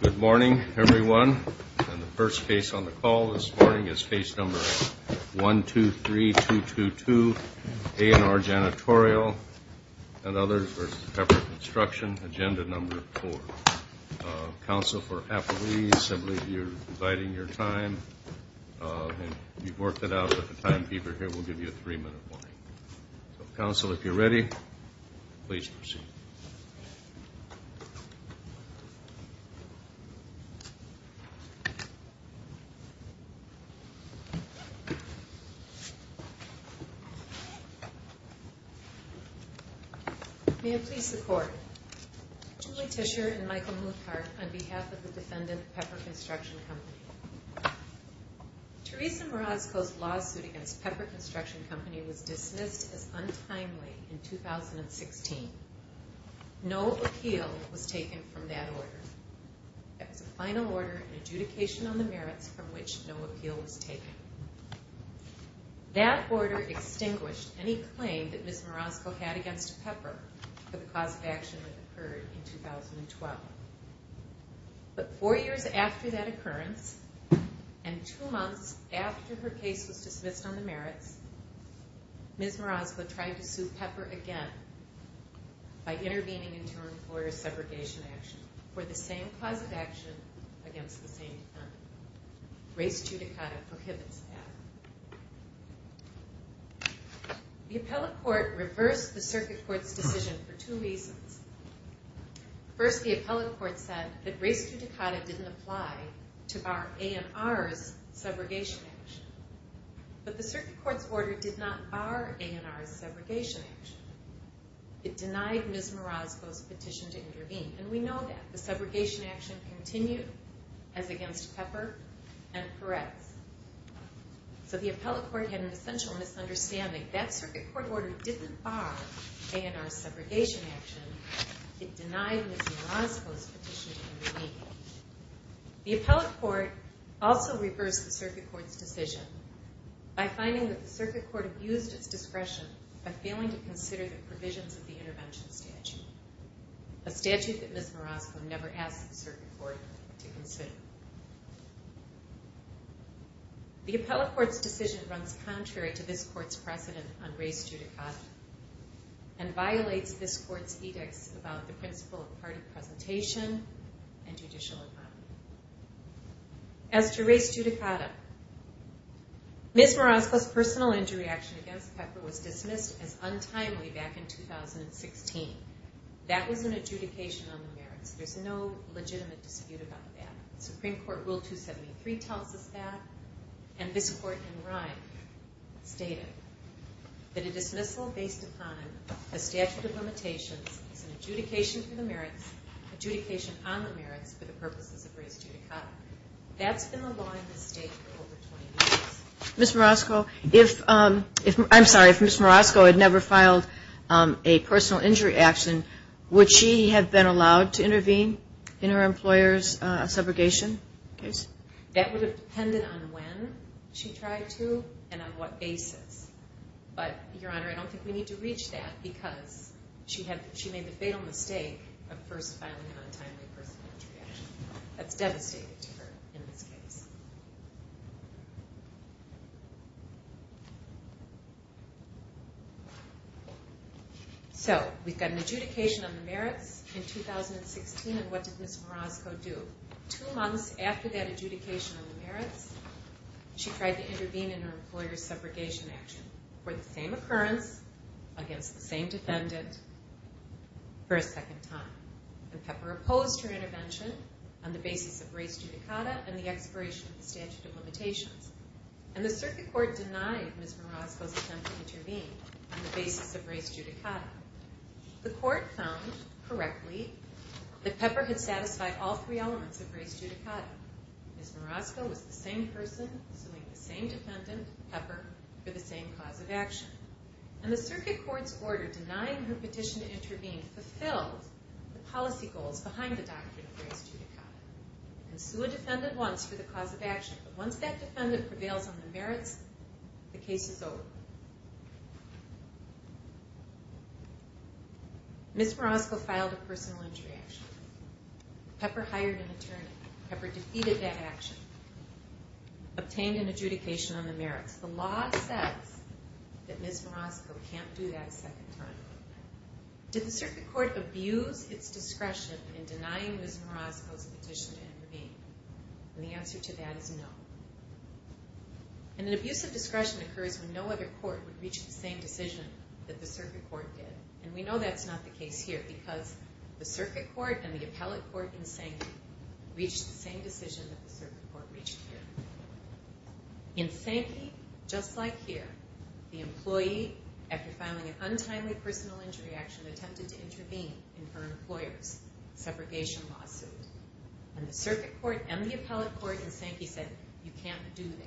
Good morning, everyone. And the first case on the call this morning is case number 123222, A&R Janitorial v. Pepper Construction, agenda number 4. Council, if you're ready, please proceed. May it please the Court. Julie Tischer and Michael Muthart on behalf of the defendant, Pepper Construction Co. Teresa Morazco's lawsuit against Pepper Construction Co. was dismissed as untimely in 2016. No appeal was taken from that order. It was a final order, an adjudication on the merits from which no appeal was taken. That order extinguished any claim that Ms. Morazco had against Pepper for the cause of action that occurred in 2012. But four years after that occurrence, and two months after her case was dismissed on the merits, Ms. Morazco tried to sue Pepper again by intervening into an employer's segregation action for the same cause of action against the same defendant. Race judicata prohibits that. The appellate court reversed the circuit court's decision for two reasons. First, the appellate court said that race judicata didn't apply to our A&R's segregation action. But the circuit court's order did not bar A&R's segregation action. It denied Ms. Morazco's petition to intervene. And we know that. The segregation action continued as against Pepper and Perez. So the appellate court had an essential misunderstanding. That circuit court order didn't bar A&R's segregation action. It denied Ms. Morazco's petition to intervene. The appellate court also reversed the circuit court's decision by finding that the circuit court abused its discretion by failing to consider the provisions of the intervention statute, a statute that Ms. Morazco never asked the circuit court to consider. The appellate court's decision runs contrary to this court's precedent on race judicata and violates this court's edicts about the principle of party presentation and judicial autonomy. As to race judicata, Ms. Morazco's personal injury action against Pepper was dismissed as untimely back in 2016. That was an adjudication on the merits. There's no legitimate dispute about that. Supreme Court Rule 273 tells us that, and this court in Rye stated that a dismissal based upon a statute of limitations is an adjudication for the merits, adjudication on the merits for the purposes of race judicata. That's been the law in this state for over 20 years. Ms. Morazco, if, I'm sorry, if Ms. Morazco had never filed a personal injury action, would she have been allowed to intervene in her employer's segregation case? That would have depended on when she tried to and on what basis. But, Your Honor, I don't think we need to reach that because she made the fatal mistake of first filing an untimely personal injury action. That's devastating to her in this case. So, we've got an adjudication on the merits in 2016, and what did Ms. Morazco do? Two months after that adjudication on the merits, she tried to intervene in her employer's segregation action for the same occurrence, against the same defendant, for a second time. And Pepper opposed her intervention on the basis of race judicata and the expiration of the statute of limitations. And the circuit court denied Ms. Morazco's attempt to intervene on the basis of race judicata. The court found, correctly, that Pepper had satisfied all three elements of race judicata. Ms. Morazco was the same person suing the same defendant, Pepper, for the same cause of action. And the circuit court's order denying her petition to intervene fulfilled the policy goals behind the doctrine of race judicata. And sue a defendant once for the cause of action, but once that defendant prevails on the merits, the case is over. Ms. Morazco filed a personal injury action. Pepper hired an attorney. Pepper defeated that action. Obtained an adjudication on the merits. The law says that Ms. Morazco can't do that a second time. Did the circuit court abuse its discretion in denying Ms. Morazco's petition to intervene? And the answer to that is no. And an abuse of discretion occurs when no other court would reach the same decision that the circuit court did. And we know that's not the case here, because the circuit court and the appellate court in Sankey reached the same decision that the circuit court reached here. In Sankey, just like here, the employee, after filing an untimely personal injury action, attempted to intervene in her employer's separation lawsuit. And the circuit court and the appellate court in Sankey said, you can't do that.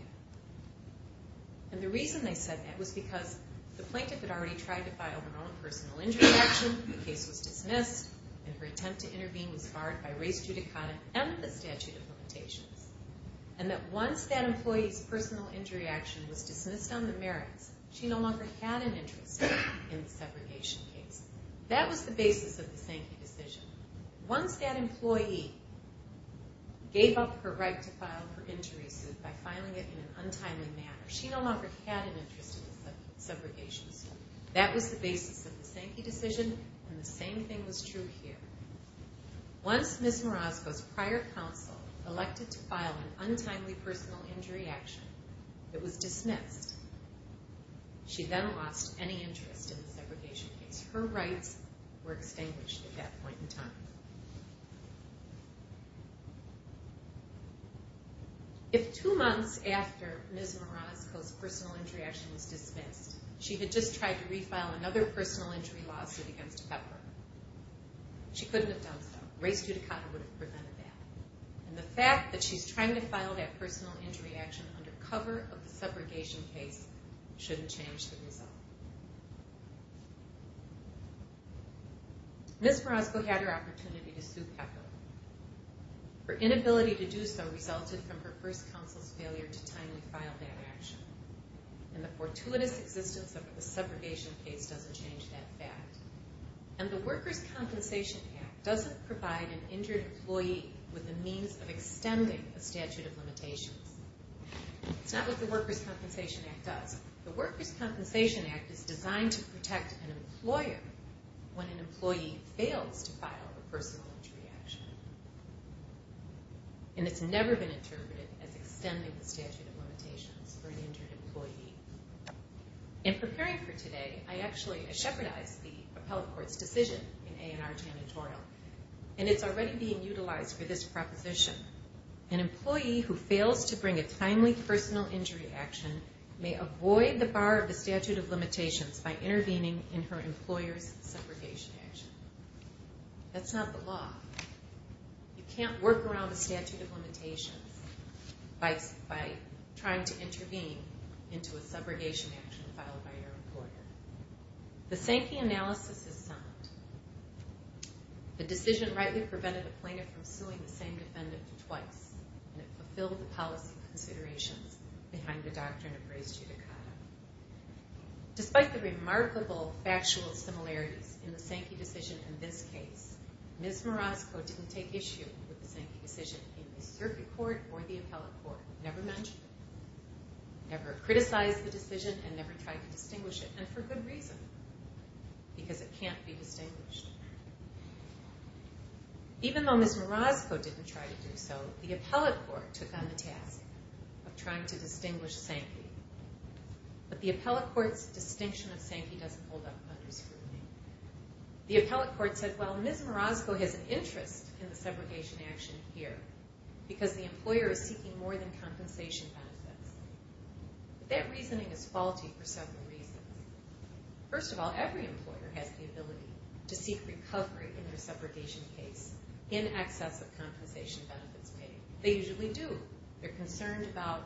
And the reason they said that was because the plaintiff had already tried to file her own personal injury action, the case was dismissed, and her attempt to intervene was barred by race judicata and the statute of limitations. And that once that employee's personal injury action was dismissed on the merits, she no longer had an interest in the separation case. That was the basis of the Sankey decision. Once that employee gave up her right to file her injury suit by filing it in an untimely manner, she no longer had an interest in the separation suit. That was the basis of the Sankey decision, and the same thing was true here. Once Ms. Marasco's prior counsel elected to file an untimely personal injury action that was dismissed, she then lost any interest in the separation case. Her rights were extinguished at that point in time. If two months after Ms. Marasco's personal injury action was dismissed, she had just tried to refile another personal injury lawsuit against Pepper, she couldn't have done so. Race judicata would have prevented that. And the fact that she's trying to file that personal injury action under cover of the separation case shouldn't change the result. Ms. Marasco had her opportunity to sue Pepper. Her inability to do so resulted from her first counsel's failure to timely file that action. And the fortuitous existence of the separation case doesn't change that fact. And the Workers' Compensation Act doesn't provide an injured employee with the means of extending the statute of limitations. It's not what the Workers' Compensation Act does. The Workers' Compensation Act is designed to protect an employer when an employee fails to file a personal injury action. And it's never been interpreted as extending the statute of limitations for an injured employee. In preparing for today, I actually shepherdized the appellate court's decision in A&R Janitorial. And it's already being utilized for this proposition. An employee who fails to bring a timely personal injury action may avoid the bar of the statute of limitations by intervening in her employer's separation action. That's not the law. You can't work around the statute of limitations by trying to intervene into a subrogation action filed by your employer. The Sankey analysis is sound. The decision rightly prevented a plaintiff from suing the same defendant twice. And it fulfilled the policy considerations behind the doctrine of res judicata. Despite the remarkable factual similarities in the Sankey decision in this case, Ms. Marasko didn't take issue with the Sankey decision in the circuit court or the appellate court. Never mentioned it. Never criticized the decision and never tried to distinguish it. And for good reason. Because it can't be distinguished. Even though Ms. Marasko didn't try to do so, the appellate court took on the task of trying to distinguish Sankey. But the appellate court's distinction of Sankey doesn't hold up under scrutiny. The appellate court said, well, Ms. Marasko has an interest in the separation action here because the employer is seeking more than compensation benefits. That reasoning is faulty for several reasons. First of all, every employer has the ability to seek recovery in their separation case in excess of compensation benefits paid. They usually do. They're concerned about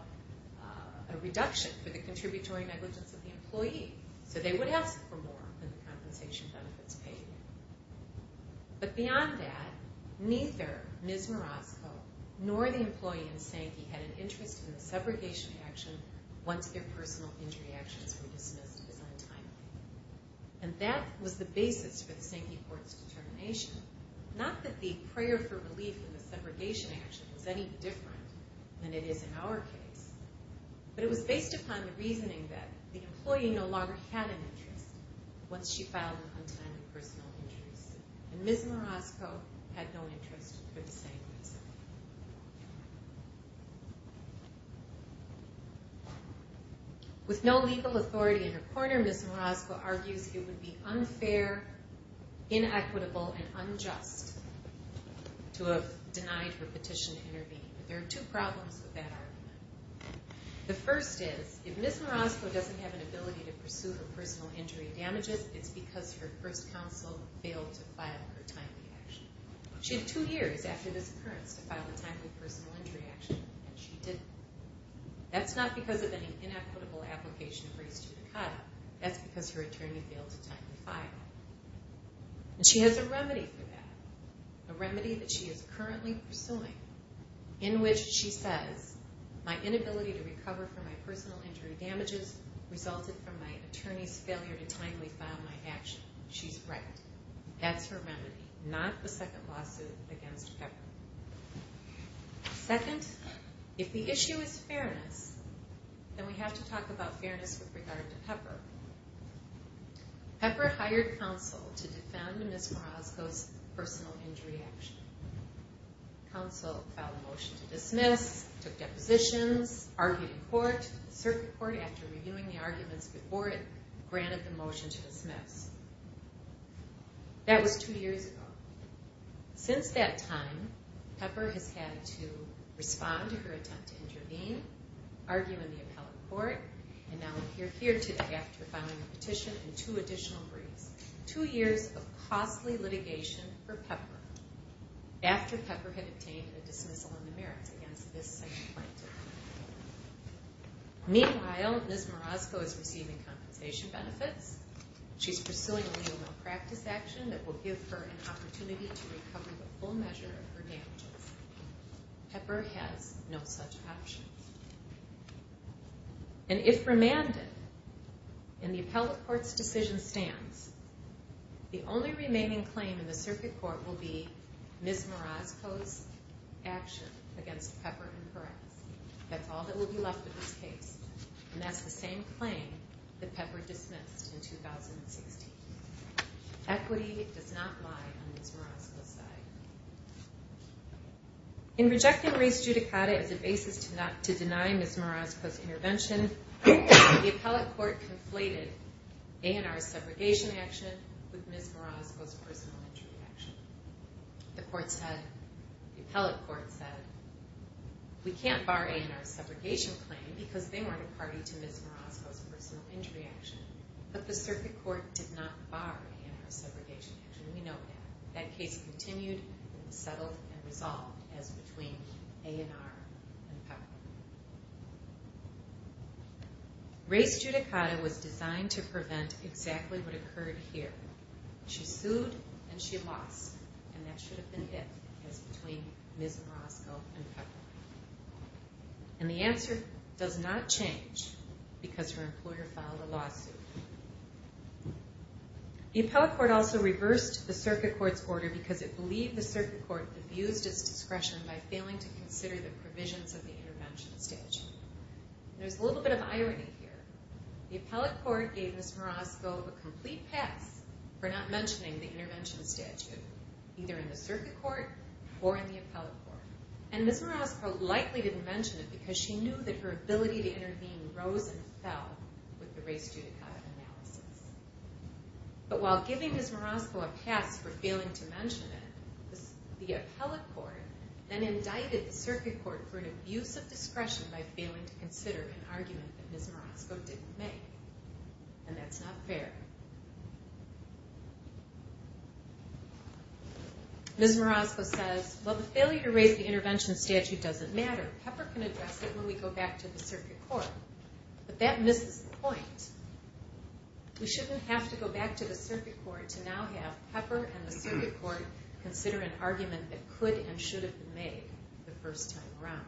a reduction for the contributory negligence of the employee. So they would ask for more than the compensation benefits paid. But beyond that, neither Ms. Marasko nor the employee in Sankey had an interest in the separation action once their personal injury actions were dismissed as untimely. And that was the basis for the Sankey court's determination. Not that the prayer for relief in the separation action was any different than it is in our case. But it was based upon the reasoning that the employee no longer had an interest once she filed an untimely personal injury. And Ms. Marasko had no interest for the same reason. With no legal authority in her corner, Ms. Marasko argues it would be unfair, inequitable, and unjust to have denied her petition to intervene. But there are two problems with that argument. The first is, if Ms. Marasko doesn't have an ability to pursue her personal injury damages, it's because her first counsel failed to file her timely action. She had two years after this occurrence to file a timely personal injury action. And she didn't. That's not because of any inequitable application raised to Dakota. That's because her attorney failed to timely file. And she has a remedy for that. A remedy that she is currently pursuing. In which she says, my inability to recover from my personal injury damages resulted from my attorney's failure to timely file my action. She's right. That's her remedy. Not the second lawsuit against Pepper. Second, if the issue is fairness, then we have to talk about fairness with regard to Pepper. Pepper hired counsel to defend Ms. Marasko's personal injury action. Counsel filed a motion to dismiss, took depositions, argued in court, circuit court, after reviewing the arguments before it granted the motion to dismiss. That was two years ago. Since that time, Pepper has had to respond to her attempt to intervene, argue in the appellate court, and now appear here today after filing a petition and two additional briefs. Two years of costly litigation for Pepper. After Pepper had obtained a dismissal in the merits against this second plaintiff. Meanwhile, Ms. Marasko is receiving compensation benefits. She's pursuing a new malpractice action that will give her an opportunity to recover the full measure of her damages. Pepper has no such option. And if remanded, and the appellate court's decision stands, the only remaining claim in the circuit court will be Ms. Marasko's action against Pepper in corrects. That's all that will be left of this case. And that's the same claim that Pepper dismissed in 2016. Equity does not lie on Ms. Marasko's side. In rejecting Reese Giudicata as a basis to deny Ms. Marasko's intervention, the appellate court conflated A&R's segregation action with Ms. Marasko's personal injury action. The court said, the appellate court said, we can't bar A&R's segregation claim because they weren't a party to Ms. Marasko's personal injury action. But the circuit court did not bar A&R's segregation action. We know that. That case continued and was settled and resolved as between A&R and Pepper. Reese Giudicata was designed to prevent exactly what occurred here. She sued and she lost, and that should have been it as between Ms. Marasko and Pepper. And the answer does not change because her employer filed a lawsuit. The appellate court also reversed the circuit court's order because it believed the circuit court abused its discretion by failing to consider the provisions of the intervention statute. There's a little bit of irony here. The appellate court gave Ms. Marasko a complete pass for not mentioning the intervention statute, either in the circuit court or in the appellate court. And Ms. Marasko likely didn't mention it because she knew that her ability to intervene rose and fell with the Reese Giudicata analysis. But while giving Ms. Marasko a pass for failing to mention it, the appellate court then indicted the circuit court for an abuse of discretion by failing to consider an argument that Ms. Marasko didn't make. And that's not fair. Ms. Marasko says, Well, the failure to raise the intervention statute doesn't matter. Pepper can address it when we go back to the circuit court. But that misses the point. We shouldn't have to go back to the circuit court to now have Pepper and the circuit court consider an argument that could and should have been made the first time around.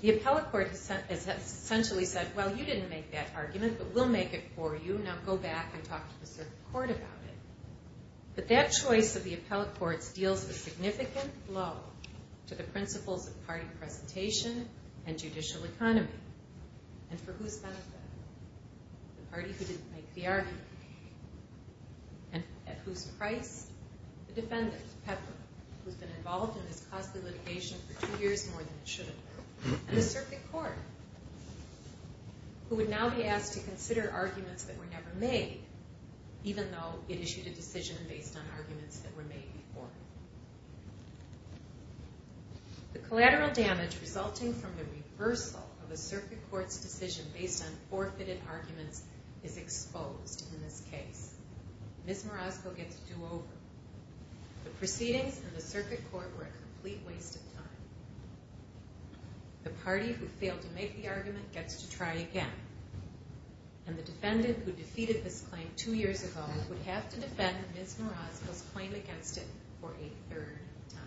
The appellate court has essentially said, Well, you didn't make that argument, but we'll make it for you. Now go back and talk to the circuit court about it. But that choice of the appellate courts deals a significant blow to the principles of party presentation and judicial economy and for whose benefit? The party who didn't make the argument. And at whose price? The defendant, Pepper, who's been involved in this costly litigation for two years more than it should have been. And the circuit court, who would now be asked to consider arguments that were never made even though it issued a decision based on arguments that were made before. The collateral damage resulting from the reversal of a circuit court's decision based on forfeited arguments is exposed in this case. Ms. Morosco gets a do-over. The proceedings in the circuit court were a complete waste of time. The party who failed to make the argument gets to try again. And the defendant who defeated this claim two years ago would have to defend Ms. Morosco's claim against it for a third time.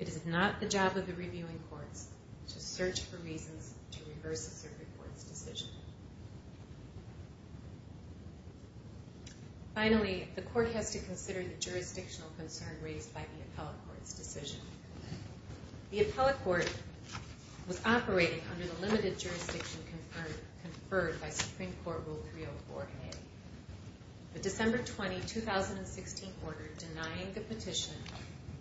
It is not the job of the reviewing courts to search for reasons to reverse a circuit court's decision. Finally, the court has to consider the jurisdictional concern raised by the appellate court's decision. The appellate court was operating under the limited jurisdiction conferred by Supreme Court Rule 304A. The December 20, 2016 order denying the petition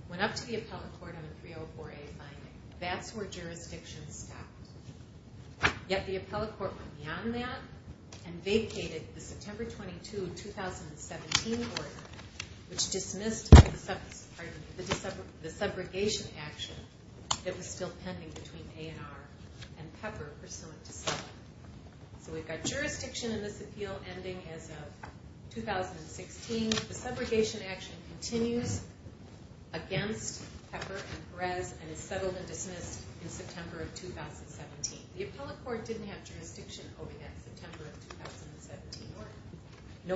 went up to the appellate court on a 304A finding. That's where jurisdiction stopped. Yet the appellate court went beyond that and vacated the September 22, 2017 order which dismissed the subrogation action that was still pending between A&R and Pepper pursuant to Settle. So we've got jurisdiction in this appeal ending as of 2016. The subrogation action continues against Pepper and Perez and is settled and dismissed in September of 2017. The appellate court didn't have jurisdiction over that September of 2017 order.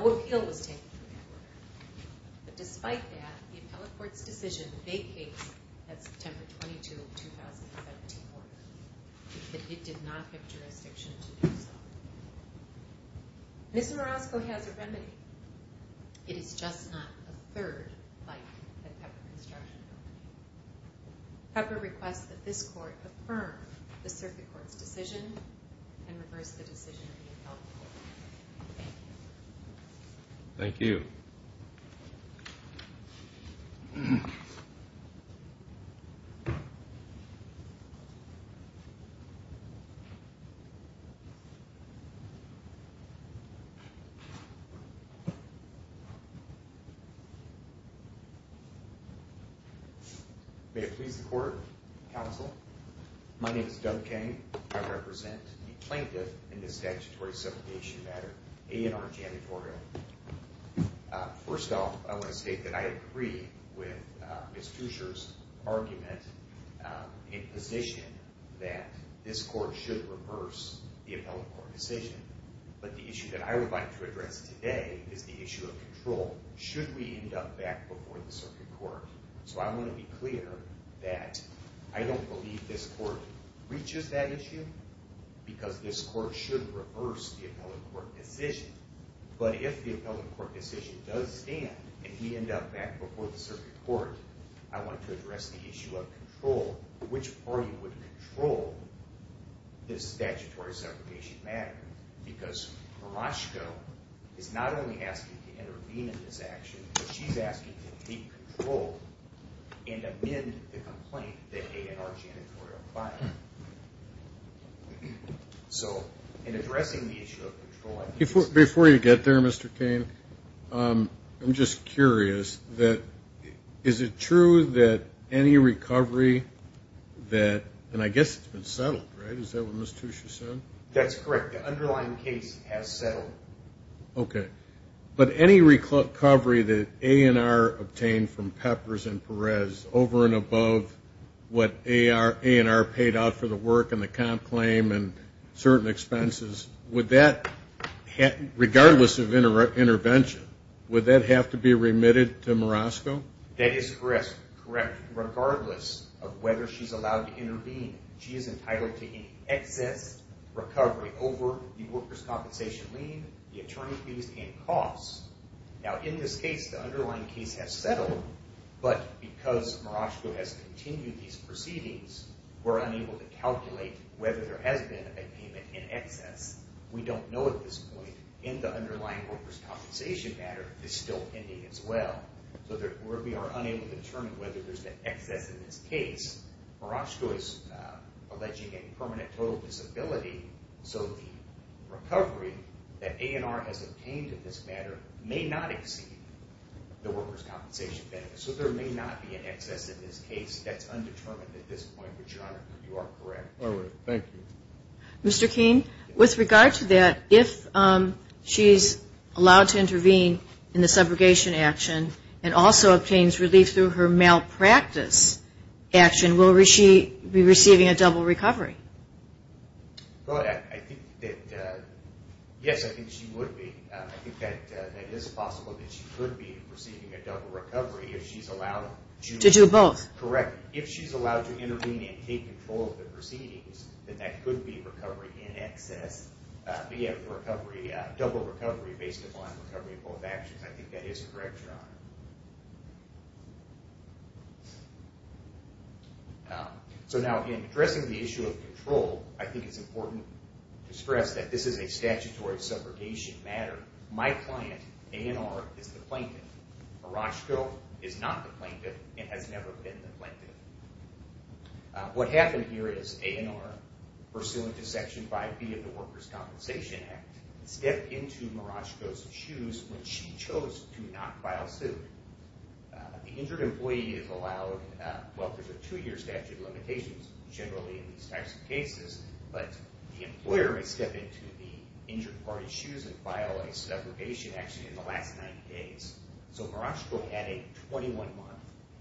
No appeal was taken from that order. But despite that, the appellate court's decision vacates that September 22, 2017 order. It did not have jurisdiction to do so. Ms. Marosco has a remedy. It is just not a third like the Pepper construction order. Pepper requests that this court affirm the circuit court's decision and reverse the decision of the appellate court. Thank you. May it please the court, counsel. My name is Doug Kang. I represent the plaintiff in the statutory subrogation matter, A&R Janitorial. First off, I want to state that I agree with Ms. Fucher's argument in position that this court should reverse the appellate court decision. But the issue that I would like to address today is the issue of control. Should we end up back before the circuit court? So I want to be clear that I don't believe this court reaches that issue because this court should reverse the appellate court decision. But if the appellate court decision does stand and we end up back before the circuit court, I want to address the issue of control. Which party would control this statutory subrogation matter? Because Marosco is not only asking to intervene in this action, but she's asking to take control and amend the complaint that A&R Janitorial filed. So in addressing the issue of control, I think it's important. Before you get there, Mr. Kane, I'm just curious. Is it true that any recovery that, and I guess it's been settled, right? Is that what Ms. Fucher said? That's correct. The underlying case has settled. Okay. But any recovery that A&R obtained from Peppers and Perez over and above what A&R paid out for the work and the comp claim and certain expenses, would that, regardless of intervention, would that have to be remitted to Marosco? That is correct, regardless of whether she's allowed to intervene. She is entitled to any excess recovery over the workers' compensation lien, the attorney fees, and costs. Now, in this case, the underlying case has settled, but because Marosco has continued these proceedings, we're unable to calculate whether there has been a payment in excess. We don't know at this point. In the underlying workers' compensation matter, it's still pending as well. So we are unable to determine whether there's an excess in this case. Marosco is alleging a permanent total disability, so the recovery that A&R has obtained in this matter may not exceed the workers' compensation. So there may not be an excess in this case. That's undetermined at this point, but, Your Honor, you are correct. All right. Thank you. Mr. Keene, with regard to that, if she's allowed to intervene in the subrogation action and also obtains relief through her malpractice action, will she be receiving a double recovery? Yes, I think she would be. I think that it is possible that she could be receiving a double recovery if she's allowed to. To do both. Correct. If she's allowed to intervene and take control of the proceedings, then that could be recovery in excess, but, yeah, double recovery based upon recovery in both actions. I think that is correct, Your Honor. So now, in addressing the issue of control, I think it's important to stress that this is a statutory subrogation matter. My client, A&R, is the plaintiff. Marashko is not the plaintiff and has never been the plaintiff. What happened here is A&R, pursuant to Section 5B of the Workers' Compensation Act, stepped into Marashko's shoes when she chose to not file suit. The injured employee is allowed, well, there's a two-year statute of limitations, generally in these types of cases, but the employer may step into the injured party's shoes and file a subrogation action in the last 90 days. So Marashko had a 21-month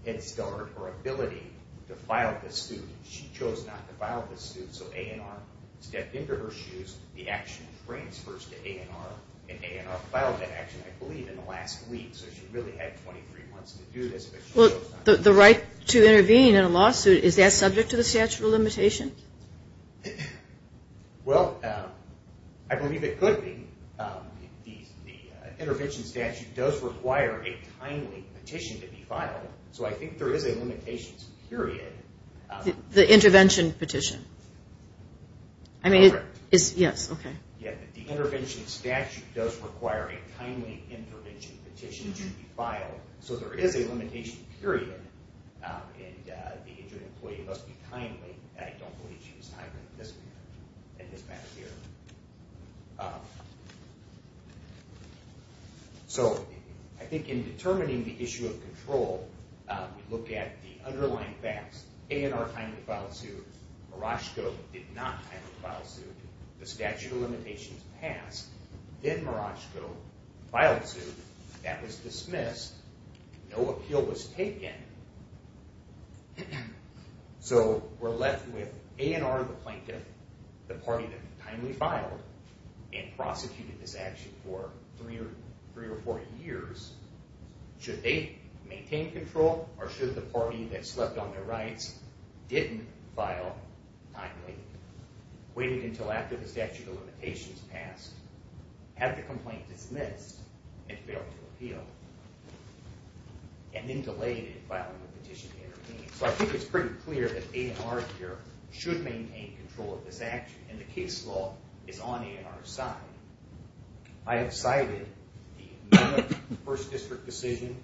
head start or ability to file this suit. She chose not to file this suit, so A&R stepped into her shoes. The action transfers to A&R, and A&R filed that action, I believe, in the last week. So she really had 23 months to do this, but she chose not to. The right to intervene in a lawsuit, is that subject to the statute of limitations? Well, I believe it could be. The intervention statute does require a timely petition to be filed, so I think there is a limitations period. The intervention petition? Correct. Yes, okay. The intervention statute does require a timely intervention petition to be filed, so there is a limitation period, and the injured employee must be timely, and I don't believe she was timely in this matter here. So I think in determining the issue of control, we look at the underlying facts. A&R time to file a suit, Marashko did not time to file a suit, the statute of limitations passed, then Marashko filed a suit. That was dismissed. No appeal was taken. So we're left with A&R the plaintiff, the party that timely filed, and prosecuted this action for three or four years. Should they maintain control, or should the party that slept on their rights didn't file timely, waited until after the statute of limitations passed, had the complaint dismissed, and failed to appeal, and then delayed it by filing a petition to intervene? So I think it's pretty clear that A&R here should maintain control of this action, and the case law is on A&R's side. I have cited the Mellon first district decision,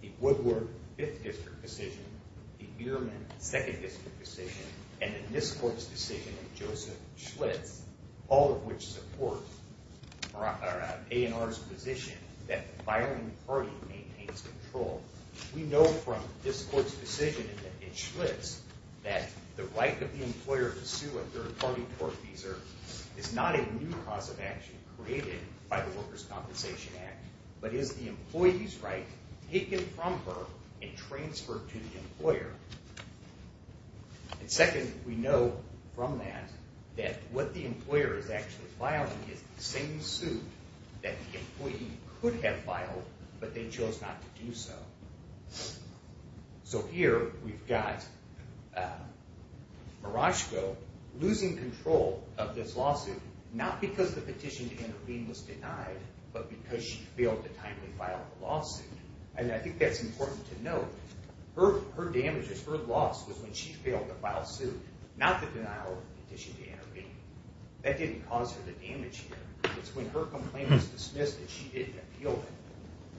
the Woodward fifth district decision, the Ehrman second district decision, and the Nisquartz decision of Joseph Schlitz, all of which support A&R's position that the filing party maintains control. We know from this court's decision in Schlitz that the right of the employer to sue a third-party court feeser is not a new cause of action created by the Workers' Compensation Act, but is the employee's right taken from her and transferred to the employer. And second, we know from that that what the employer is actually filing is the same suit that the employee could have filed, but they chose not to do so. So here we've got Marashko losing control of this lawsuit, not because the petition to intervene was denied, and I think that's important to note. Her damages, her loss, was when she failed to file a suit, not the denial of the petition to intervene. That didn't cause her the damage here. It's when her complaint was dismissed and she didn't appeal it.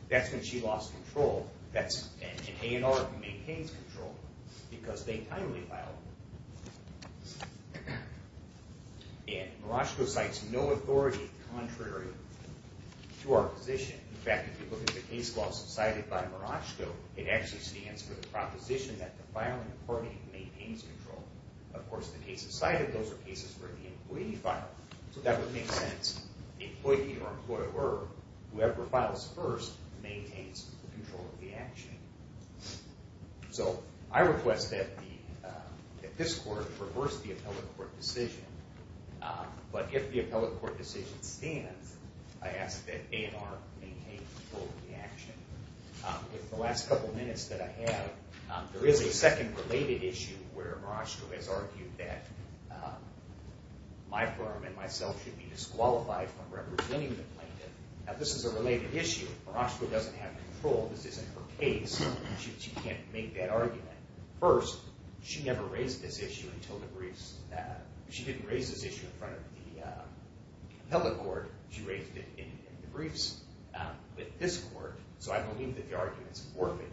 That's when she lost control, and A&R maintains control because they timely filed it. And Marashko cites no authority contrary to our position. In fact, if you look at the case laws cited by Marashko, it actually stands for the proposition that the filing authority maintains control. Of course, the cases cited, those are cases where the employee filed. So that would make sense. The employee or employer, whoever files first, maintains control of the action. So I request that this court reverse the appellate court decision, but if the appellate court decision stands, I ask that A&R maintain control of the action. In the last couple of minutes that I have, there is a second related issue where Marashko has argued that my firm and myself should be disqualified from representing the plaintiff. Now, this is a related issue. Marashko doesn't have control. This isn't her case. She can't make that argument. First, she never raised this issue until the briefs. She didn't raise this issue in front of the appellate court. She raised it in the briefs with this court, so I believe that the argument is worth it.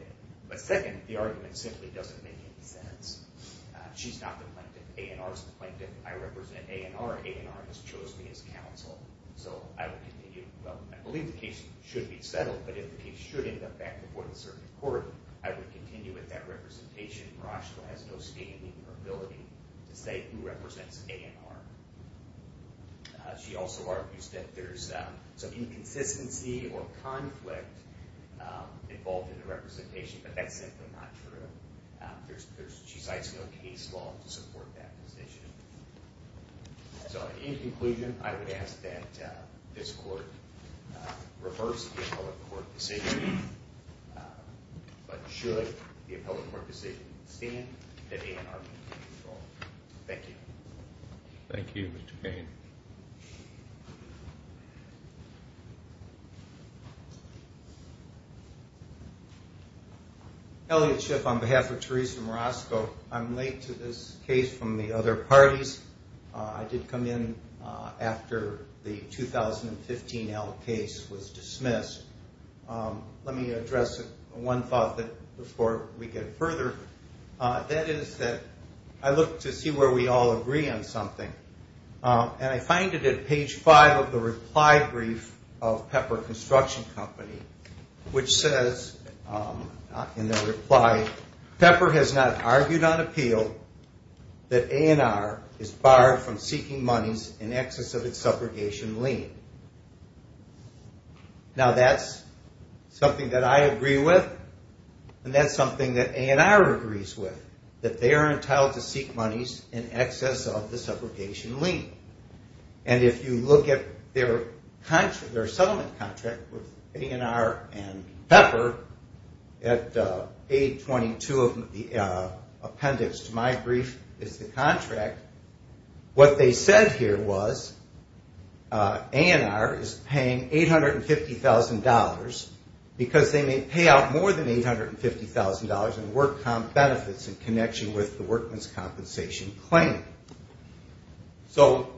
But second, the argument simply doesn't make any sense. She's not the plaintiff. A&R is the plaintiff. I represent A&R. A&R has chosen me as counsel, so I will continue. Well, I believe the case should be settled, but if the case should end up back before the circuit court, I would continue with that representation. Marashko has no standing or ability to say who represents A&R. She also argues that there's some inconsistency or conflict involved in the representation, but that's simply not true. She cites no case law to support that position. So, in conclusion, I would ask that this court reverse the appellate court decision, but should the appellate court decision stand, that A&R be in control. Thank you. Thank you, Mr. Payne. Elliot Schiff on behalf of Teresa Marashko. I'm late to this case from the other parties. I did come in after the 2015L case was dismissed. Let me address one thought before we get further. That is that I look to see where we all agree on something, and I find it at page 5 of the reply brief of Pepper Construction Company, which says in the reply, Pepper has not argued on appeal that A&R is barred from seeking monies in excess of its subrogation lien. Now, that's something that I agree with, and that's something that A&R agrees with, that they are entitled to seek monies in excess of the subrogation lien. And if you look at their settlement contract with A&R and Pepper, at page 22 of the appendix to my brief is the contract, what they said here was A&R is paying $850,000 because they may pay out more than $850,000 in work comp benefits in connection with the workman's compensation claim. So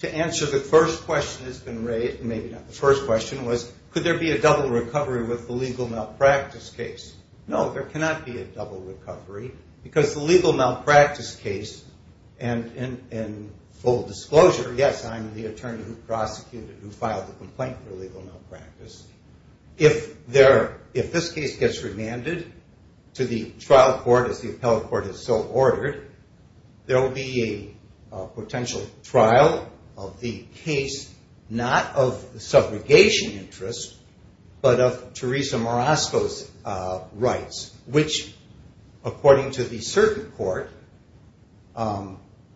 to answer the first question that's been raised, maybe not the first question, was could there be a double recovery with the legal malpractice case? No, there cannot be a double recovery because the legal malpractice case, and full disclosure, yes, I'm the attorney who prosecuted, who filed the complaint for legal malpractice, if this case gets remanded to the trial court as the appellate court has so ordered, there will be a potential trial of the case not of the subrogation interest, but of Teresa Marasco's rights, which according to the circuit court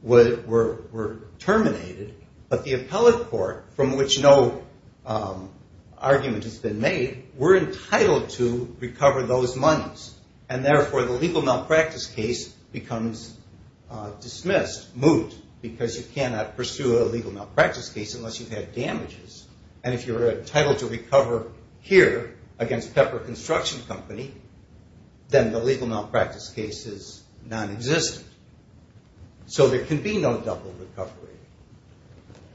were terminated, but the appellate court from which no argument has been made, we're entitled to recover those monies, and therefore the legal malpractice case becomes dismissed, moot, because you cannot pursue a legal malpractice case unless you've had damages, and if you're entitled to recover here against Pepper Construction Company, then the legal malpractice case is nonexistent. So there can be no double recovery.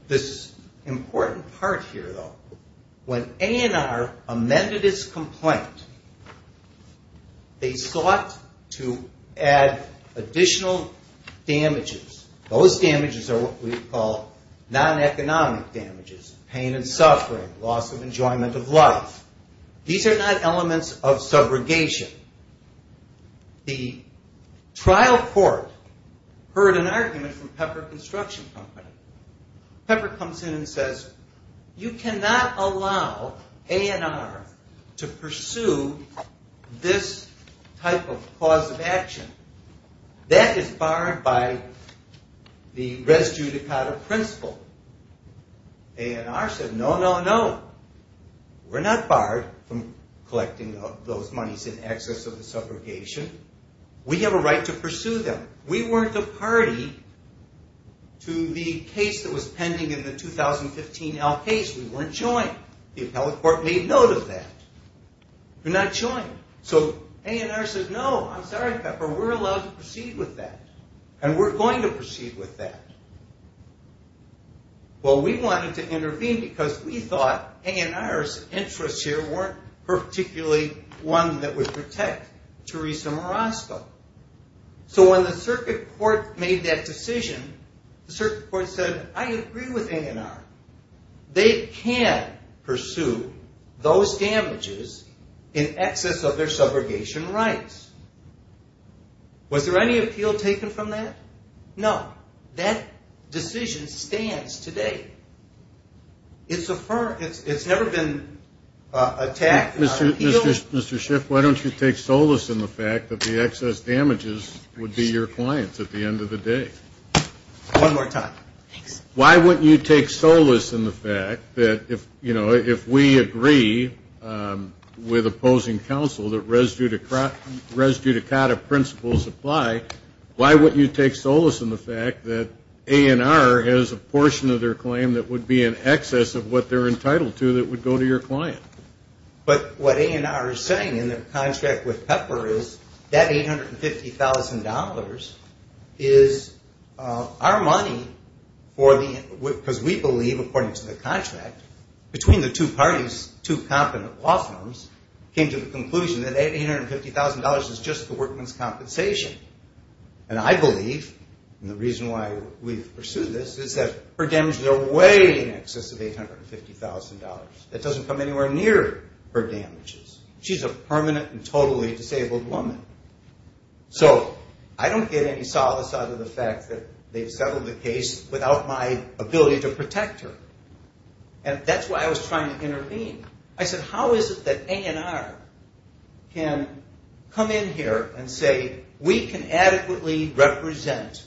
This important part here, though, when A&R amended its complaint, they sought to add additional damages. Those damages are what we call non-economic damages, pain and suffering, loss of enjoyment of life. These are not elements of subrogation. The trial court heard an argument from Pepper Construction Company. Pepper comes in and says, you cannot allow A&R to pursue this type of cause of action. That is barred by the res judicata principle. A&R said, no, no, no. We're not barred from collecting those monies in excess of the subrogation. We have a right to pursue them. We weren't a party to the case that was pending in the 2015 L case. We weren't joined. The appellate court made note of that. We're not joined. So A&R says, no, I'm sorry, Pepper, we're allowed to proceed with that, and we're going to proceed with that. Well, we wanted to intervene because we thought A&R's interests here weren't particularly one that would protect Teresa Marosco. So when the circuit court made that decision, the circuit court said, I agree with A&R. They can pursue those damages in excess of their subrogation rights. Was there any appeal taken from that? No. That decision stands today. It's never been attacked. Mr. Schiff, why don't you take solace in the fact that the excess damages would be your clients at the end of the day? One more time. Thanks. Why wouldn't you take solace in the fact that if we agree with opposing counsel that res judicata principles apply, why wouldn't you take solace in the fact that A&R has a portion of their claim that would be in excess of what they're entitled to that would go to your client? But what A&R is saying in their contract with Pepper is that $850,000 is our money for the end, because we believe, according to the contract, between the two parties, two competent law firms, came to the conclusion that $850,000 is just the workman's compensation. And I believe, and the reason why we've pursued this, is that her damages are way in excess of $850,000. That doesn't come anywhere near her damages. She's a permanent and totally disabled woman. So I don't get any solace out of the fact that they've settled the case without my ability to protect her. And that's why I was trying to intervene. I said, how is it that A&R can come in here and say, we can adequately represent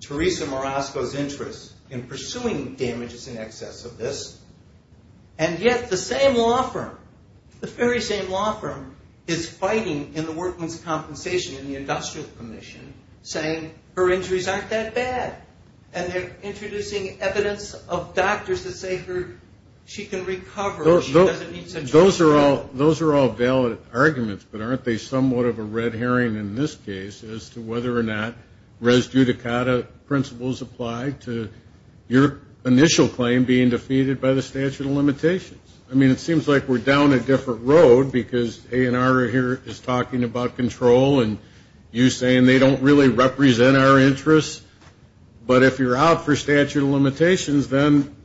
Teresa Marasco's interest in pursuing damages in excess of this, and yet the same law firm, the very same law firm, is fighting in the workman's compensation in the industrial commission, saying her injuries aren't that bad. And they're introducing evidence of doctors that say she can recover. She doesn't need surgery. Those are all valid arguments, but aren't they somewhat of a red herring in this case as to whether or not res judicata principles apply to your initial claim being defeated by the statute of limitations? I mean, it seems like we're down a different road, because A&R here is talking about control, and you're saying they don't really represent our interests. But if you're out for statute of limitations, then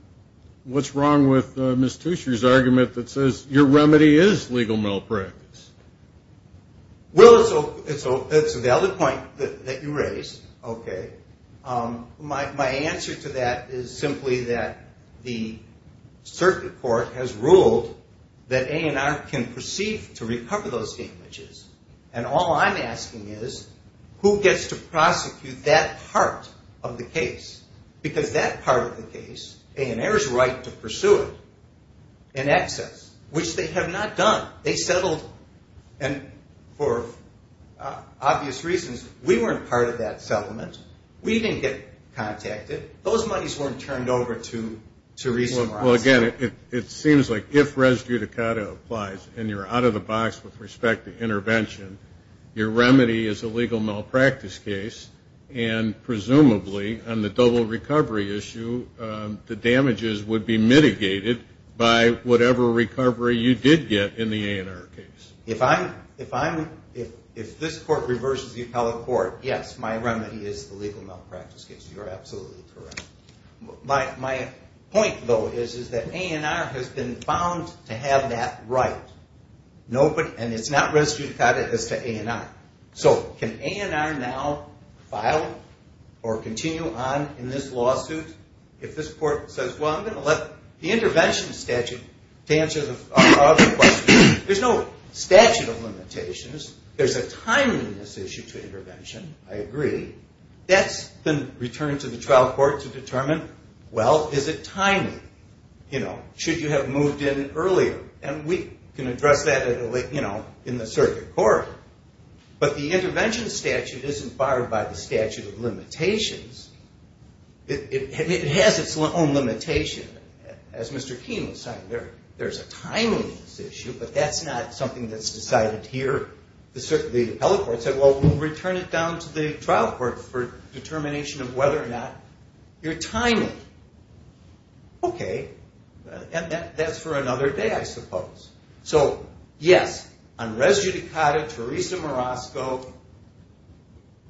what's wrong with Ms. Tuescher's argument that says your remedy is legal malpractice? Well, it's a valid point that you raise. Okay. My answer to that is simply that the circuit court has ruled that A&R can proceed to recover those damages. And all I'm asking is, who gets to prosecute that part of the case? Because that part of the case, A&R's right to pursue it in excess, which they have not done. They settled, and for obvious reasons, we weren't part of that settlement. We didn't get contacted. Those monies weren't turned over to reason. Well, again, it seems like if res judicata applies, and you're out of the box with respect to intervention, your remedy is a legal malpractice case, and presumably on the double recovery issue the damages would be mitigated by whatever recovery you did get in the A&R case. If this court reverses the appellate court, yes, my remedy is the legal malpractice case. You are absolutely correct. My point, though, is that A&R has been found to have that right, and it's not res judicata as to A&R. So can A&R now file or continue on in this lawsuit if this court says, well, I'm going to let the intervention statute to answer other questions? There's no statute of limitations. That's been returned to the trial court to determine, well, is it timely? Should you have moved in earlier? And we can address that in the circuit court. But the intervention statute isn't barred by the statute of limitations. It has its own limitation. As Mr. Keene was saying, there's a timeliness issue, but that's not something that's decided here. The appellate court said, well, we'll return it down to the trial court for determination of whether or not you're timely. Okay. And that's for another day, I suppose. So, yes, on res judicata, Teresa Morosco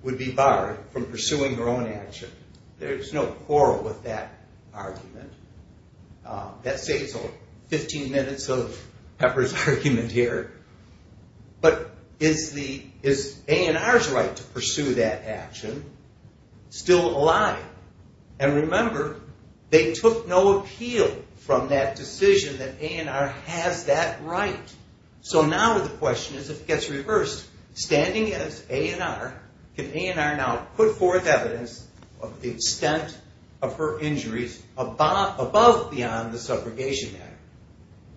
would be barred from pursuing her own action. There's no quarrel with that argument. That saves 15 minutes of Pepper's argument here. But is A&R's right to pursue that action still alive? And remember, they took no appeal from that decision that A&R has that right. So now the question is, if it gets reversed, standing as A&R, can A&R now put forth evidence of the extent of her injuries above beyond the Subrogation Act?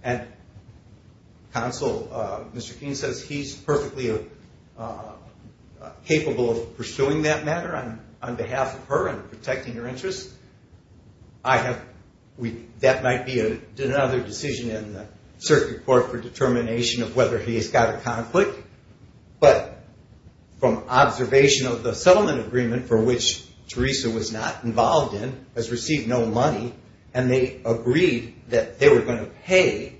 And Counsel, Mr. Keene says he's perfectly capable of pursuing that matter on behalf of her and protecting her interests. That might be another decision in the circuit court for determination of whether he's got a conflict. But from observation of the settlement agreement for which Teresa was not involved in, has received no money, and they agreed that they were going to pay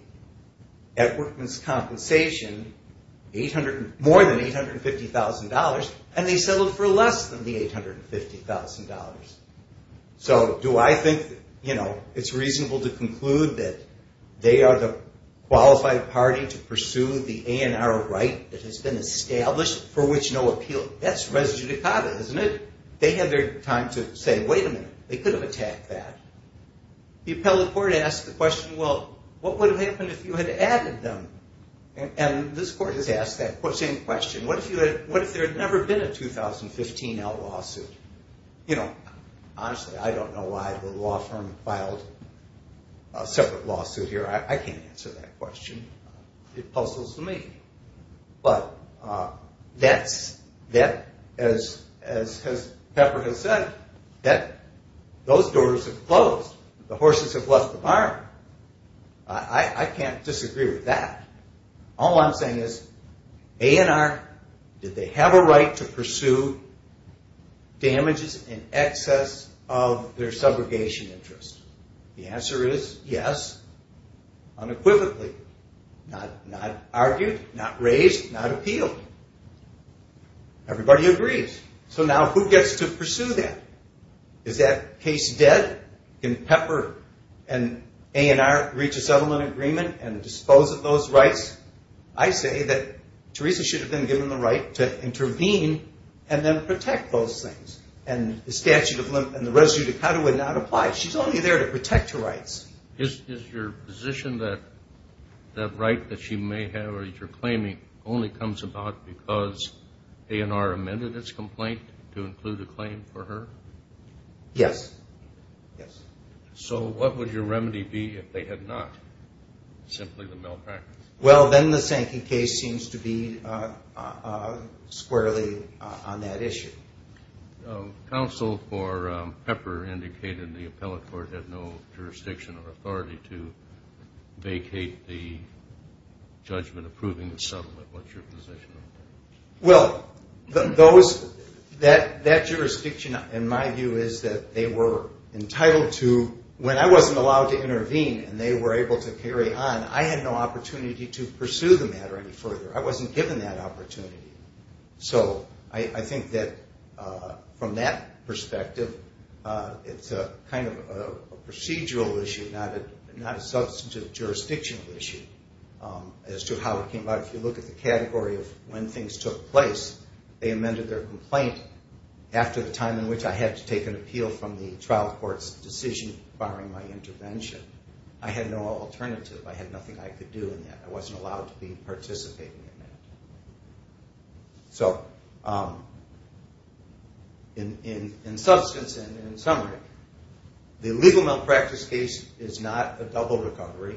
at workman's compensation more than $850,000, and they settled for less than the $850,000. So do I think it's reasonable to conclude that they are the qualified party to pursue the A&R right that has been established for which no appeal? That's res judicata, isn't it? They had their time to say, wait a minute, they could have attacked that. The appellate court asked the question, well, what would have happened if you had added them? And this court has asked that same question. What if there had never been a 2015-L lawsuit? Honestly, I don't know why the law firm filed a separate lawsuit here. I can't answer that question. It puzzles me. But as Pepper has said, those doors have closed. The horses have left the barn. I can't disagree with that. All I'm saying is A&R, did they have a right to pursue damages in excess of their subrogation interest? The answer is yes, unequivocally. Not argued, not raised, not appealed. Everybody agrees. So now who gets to pursue that? Is that case dead? Can Pepper and A&R reach a settlement agreement and dispose of those rights? I say that Teresa should have been given the right to intervene and then protect those things. And the statute of limits and the res judicata would not apply. She's only there to protect her rights. Is your position that that right that she may have or you're claiming only comes about because A&R amended its complaint to include a claim for her? Yes. So what would your remedy be if they had not? Simply the malpractice. Well, then the Sankey case seems to be squarely on that issue. Counsel for Pepper indicated the appellate court had no jurisdiction or authority to vacate the judgment approving the settlement. What's your position on that? Well, that jurisdiction, in my view, is that they were entitled to, when I wasn't allowed to intervene and they were able to carry on, I had no opportunity to pursue the matter any further. I wasn't given that opportunity. So I think that from that perspective, it's kind of a procedural issue, not a substantive jurisdictional issue as to how it came about. If you look at the category of when things took place, they amended their complaint after the time in which I had to take an appeal from the trial court's decision requiring my intervention. I had no alternative. I had nothing I could do in that. I wasn't allowed to be participating in that. So in substance and in summary, the illegal malpractice case is not a double recovery.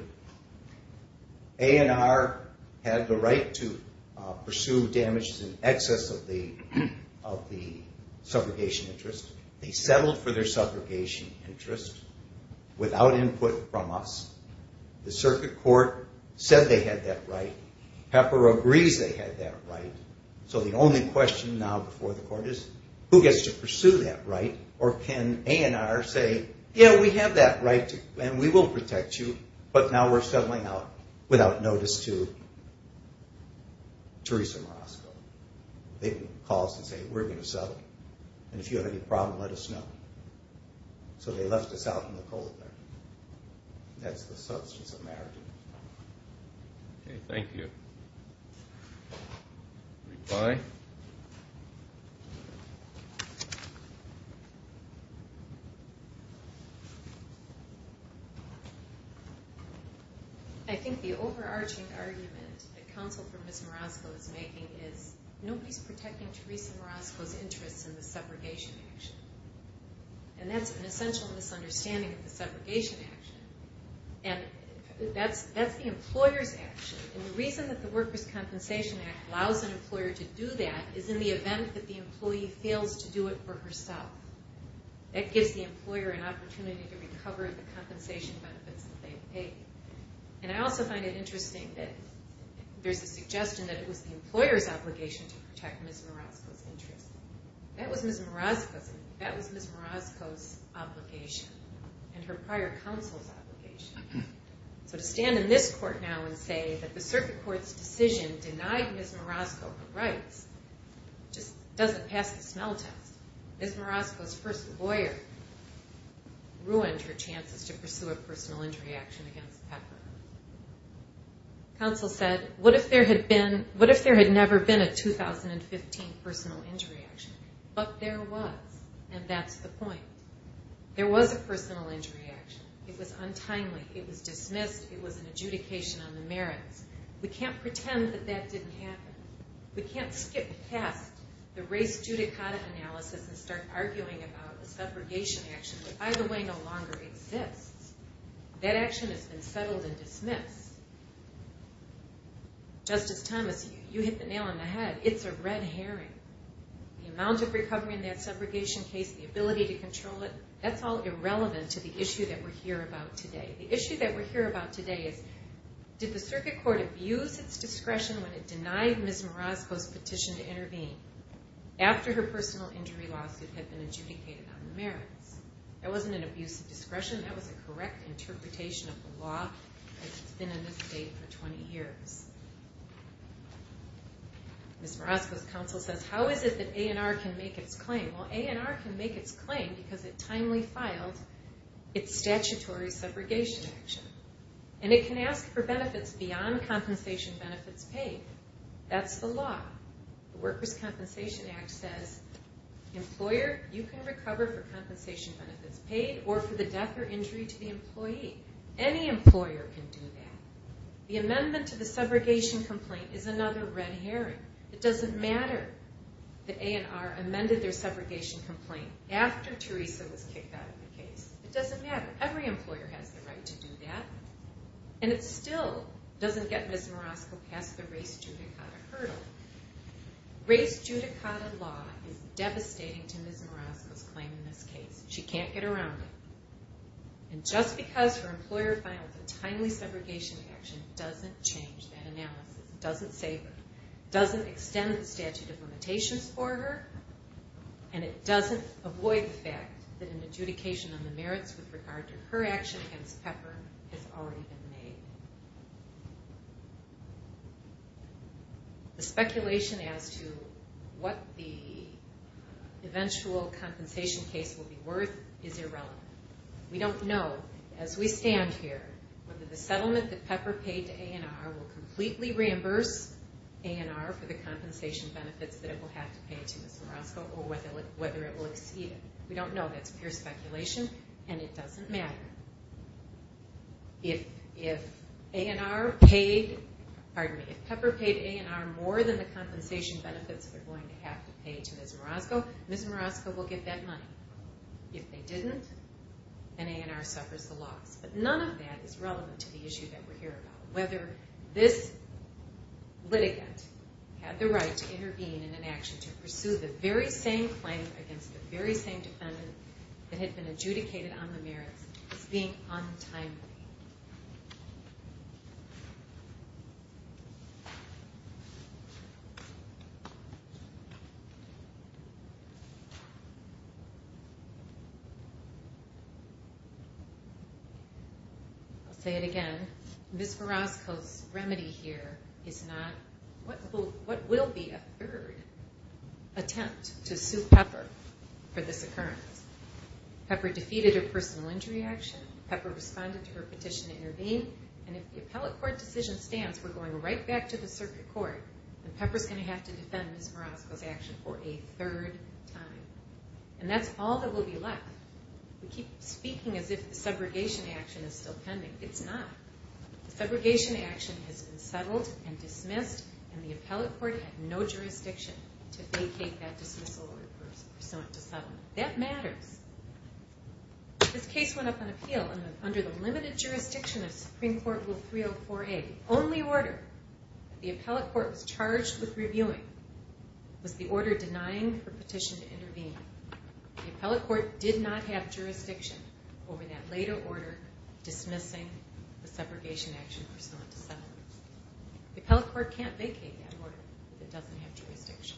A&R had the right to pursue damages in excess of the subrogation interest. They settled for their subrogation interest without input from us. The circuit court said they had that right. Pepper agrees they had that right. So the only question now before the court is who gets to pursue that right or can A&R say, yeah, we have that right and we will protect you, but now we're settling out without notice to Teresa Marasco. They can call us and say, we're going to settle. And if you have any problem, let us know. So they left us out in the cold there. That's the substance of marriage. Okay, thank you. Goodbye. I think the overarching argument that counsel for Ms. Marasco is making is nobody's protecting Teresa Marasco's interests in the subrogation action. And that's an essential misunderstanding of the subrogation action. And that's the employer's action. And the reason that the Workers' Compensation Act allows an employer to do that is in the event that the employee fails to do it for herself. That gives the employer an opportunity to recover the compensation benefits that they've paid. And I also find it interesting that there's a suggestion that it was the employer's obligation to protect Ms. Marasco's interests. That was Ms. Marasco's obligation and her prior counsel's obligation. So to stand in this court now and say that the circuit court's decision denied Ms. Marasco her rights just doesn't pass the smell test. Ms. Marasco's first lawyer ruined her chances to pursue a personal injury action against Pepper. Counsel said, what if there had never been a 2015 personal injury action? But there was. And that's the point. There was a personal injury action. It was untimely. It was dismissed. It was an adjudication on the merits. We can't pretend that that didn't happen. We can't skip past the race judicata analysis and start arguing about a subrogation action that, by the way, no longer exists. That action has been settled and dismissed. Justice Thomas, you hit the nail on the head. It's a red herring. The amount of recovery in that subrogation case, the ability to control it, that's all irrelevant to the issue that we're here about today. The issue that we're here about today is did the circuit court abuse its discretion when it denied Ms. Marasco's petition to intervene after her personal injury lawsuit had been adjudicated on the merits? That wasn't an abuse of discretion. That was a correct interpretation of the law that's been in this state for 20 years. Ms. Marasco's counsel says, how is it that A&R can make its claim? Well, A&R can make its claim because it timely filed its statutory subrogation action. And it can ask for benefits beyond compensation benefits paid. That's the law. The Workers' Compensation Act says, employer, you can recover for injury to the employee. Any employer can do that. The amendment to the subrogation complaint is another red herring. It doesn't matter that A&R amended their subrogation complaint after Teresa was kicked out of the case. It doesn't matter. Every employer has the right to do that. And it still doesn't get Ms. Marasco past the race judicata hurdle. Race judicata law is devastating to Ms. Marasco's claim in this case. She can't get around it. And just because her employer filed a timely subrogation action doesn't change that analysis. It doesn't save her. It doesn't extend the statute of limitations for her. And it doesn't avoid the fact that an adjudication on the merits with regard to her action against Pepper has already been made. The speculation as to what the eventual compensation case will be worth is irrelevant. We don't know, as we stand here, whether the settlement that Pepper paid to A&R will completely reimburse A&R for the compensation benefits that it will have to pay to Ms. Marasco or whether it will exceed it. We don't know. That's pure speculation. And it doesn't matter. If Pepper paid A&R more than the compensation benefits they're going to have to pay to Ms. Marasco, Ms. Marasco will get that money. If they didn't, then A&R suffers the loss. But none of that is relevant to the issue that we're here about. Whether this litigant had the right to intervene in an action to pursue the very same claim against the very same defendant that had been adjudicated on the merits is being untimely. I'll say it again. Ms. Marasco's remedy here is not what will be a third attempt to sue Pepper for this occurrence. Pepper defeated her personal injury action. Pepper responded to her petition to intervene. And if the appellate court decision stands, we're going right back to the circuit court, and Pepper's going to have to defend Ms. Marasco's action for a third time. And that's all that will be left. We keep speaking as if the segregation action is still pending. It's not. The segregation action has been settled and dismissed, and the appellate court had no jurisdiction to vacate that dismissal order pursuant to settlement. That matters. This case went up on appeal under the limited jurisdiction of Supreme Court Rule 304A. The only order that the appellate court was charged with reviewing was the order denying her petition to intervene. The appellate court did not have jurisdiction over that later order The appellate court can't vacate that order if it doesn't have jurisdiction.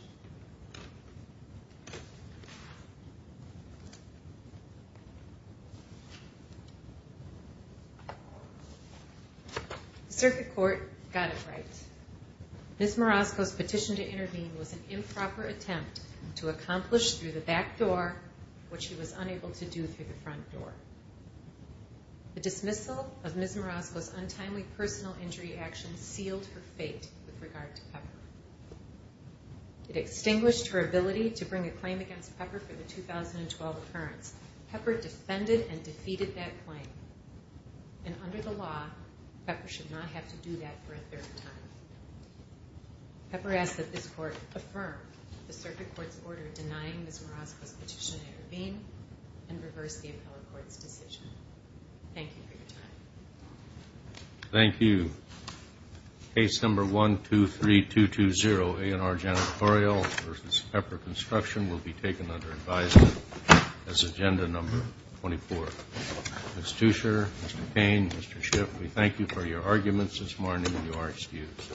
The circuit court got it right. Ms. Marasco's petition to intervene was an improper attempt to accomplish through the back door what she was unable to do through the front door. The dismissal of Ms. Marasco's untimely personal injury action sealed her fate with regard to Pepper. It extinguished her ability to bring a claim against Pepper for the 2012 appearance. Pepper defended and defeated that claim. And under the law, Pepper should not have to do that for a third time. Pepper asked that this court affirm the circuit court's order denying Ms. Thank you for your time. Thank you. Case number 123220, A&R Janitorial v. Pepper Construction will be taken under advisement as agenda number 24. Ms. Tuescher, Mr. Payne, Mr. Schiff, we thank you for your arguments this morning. You are excused.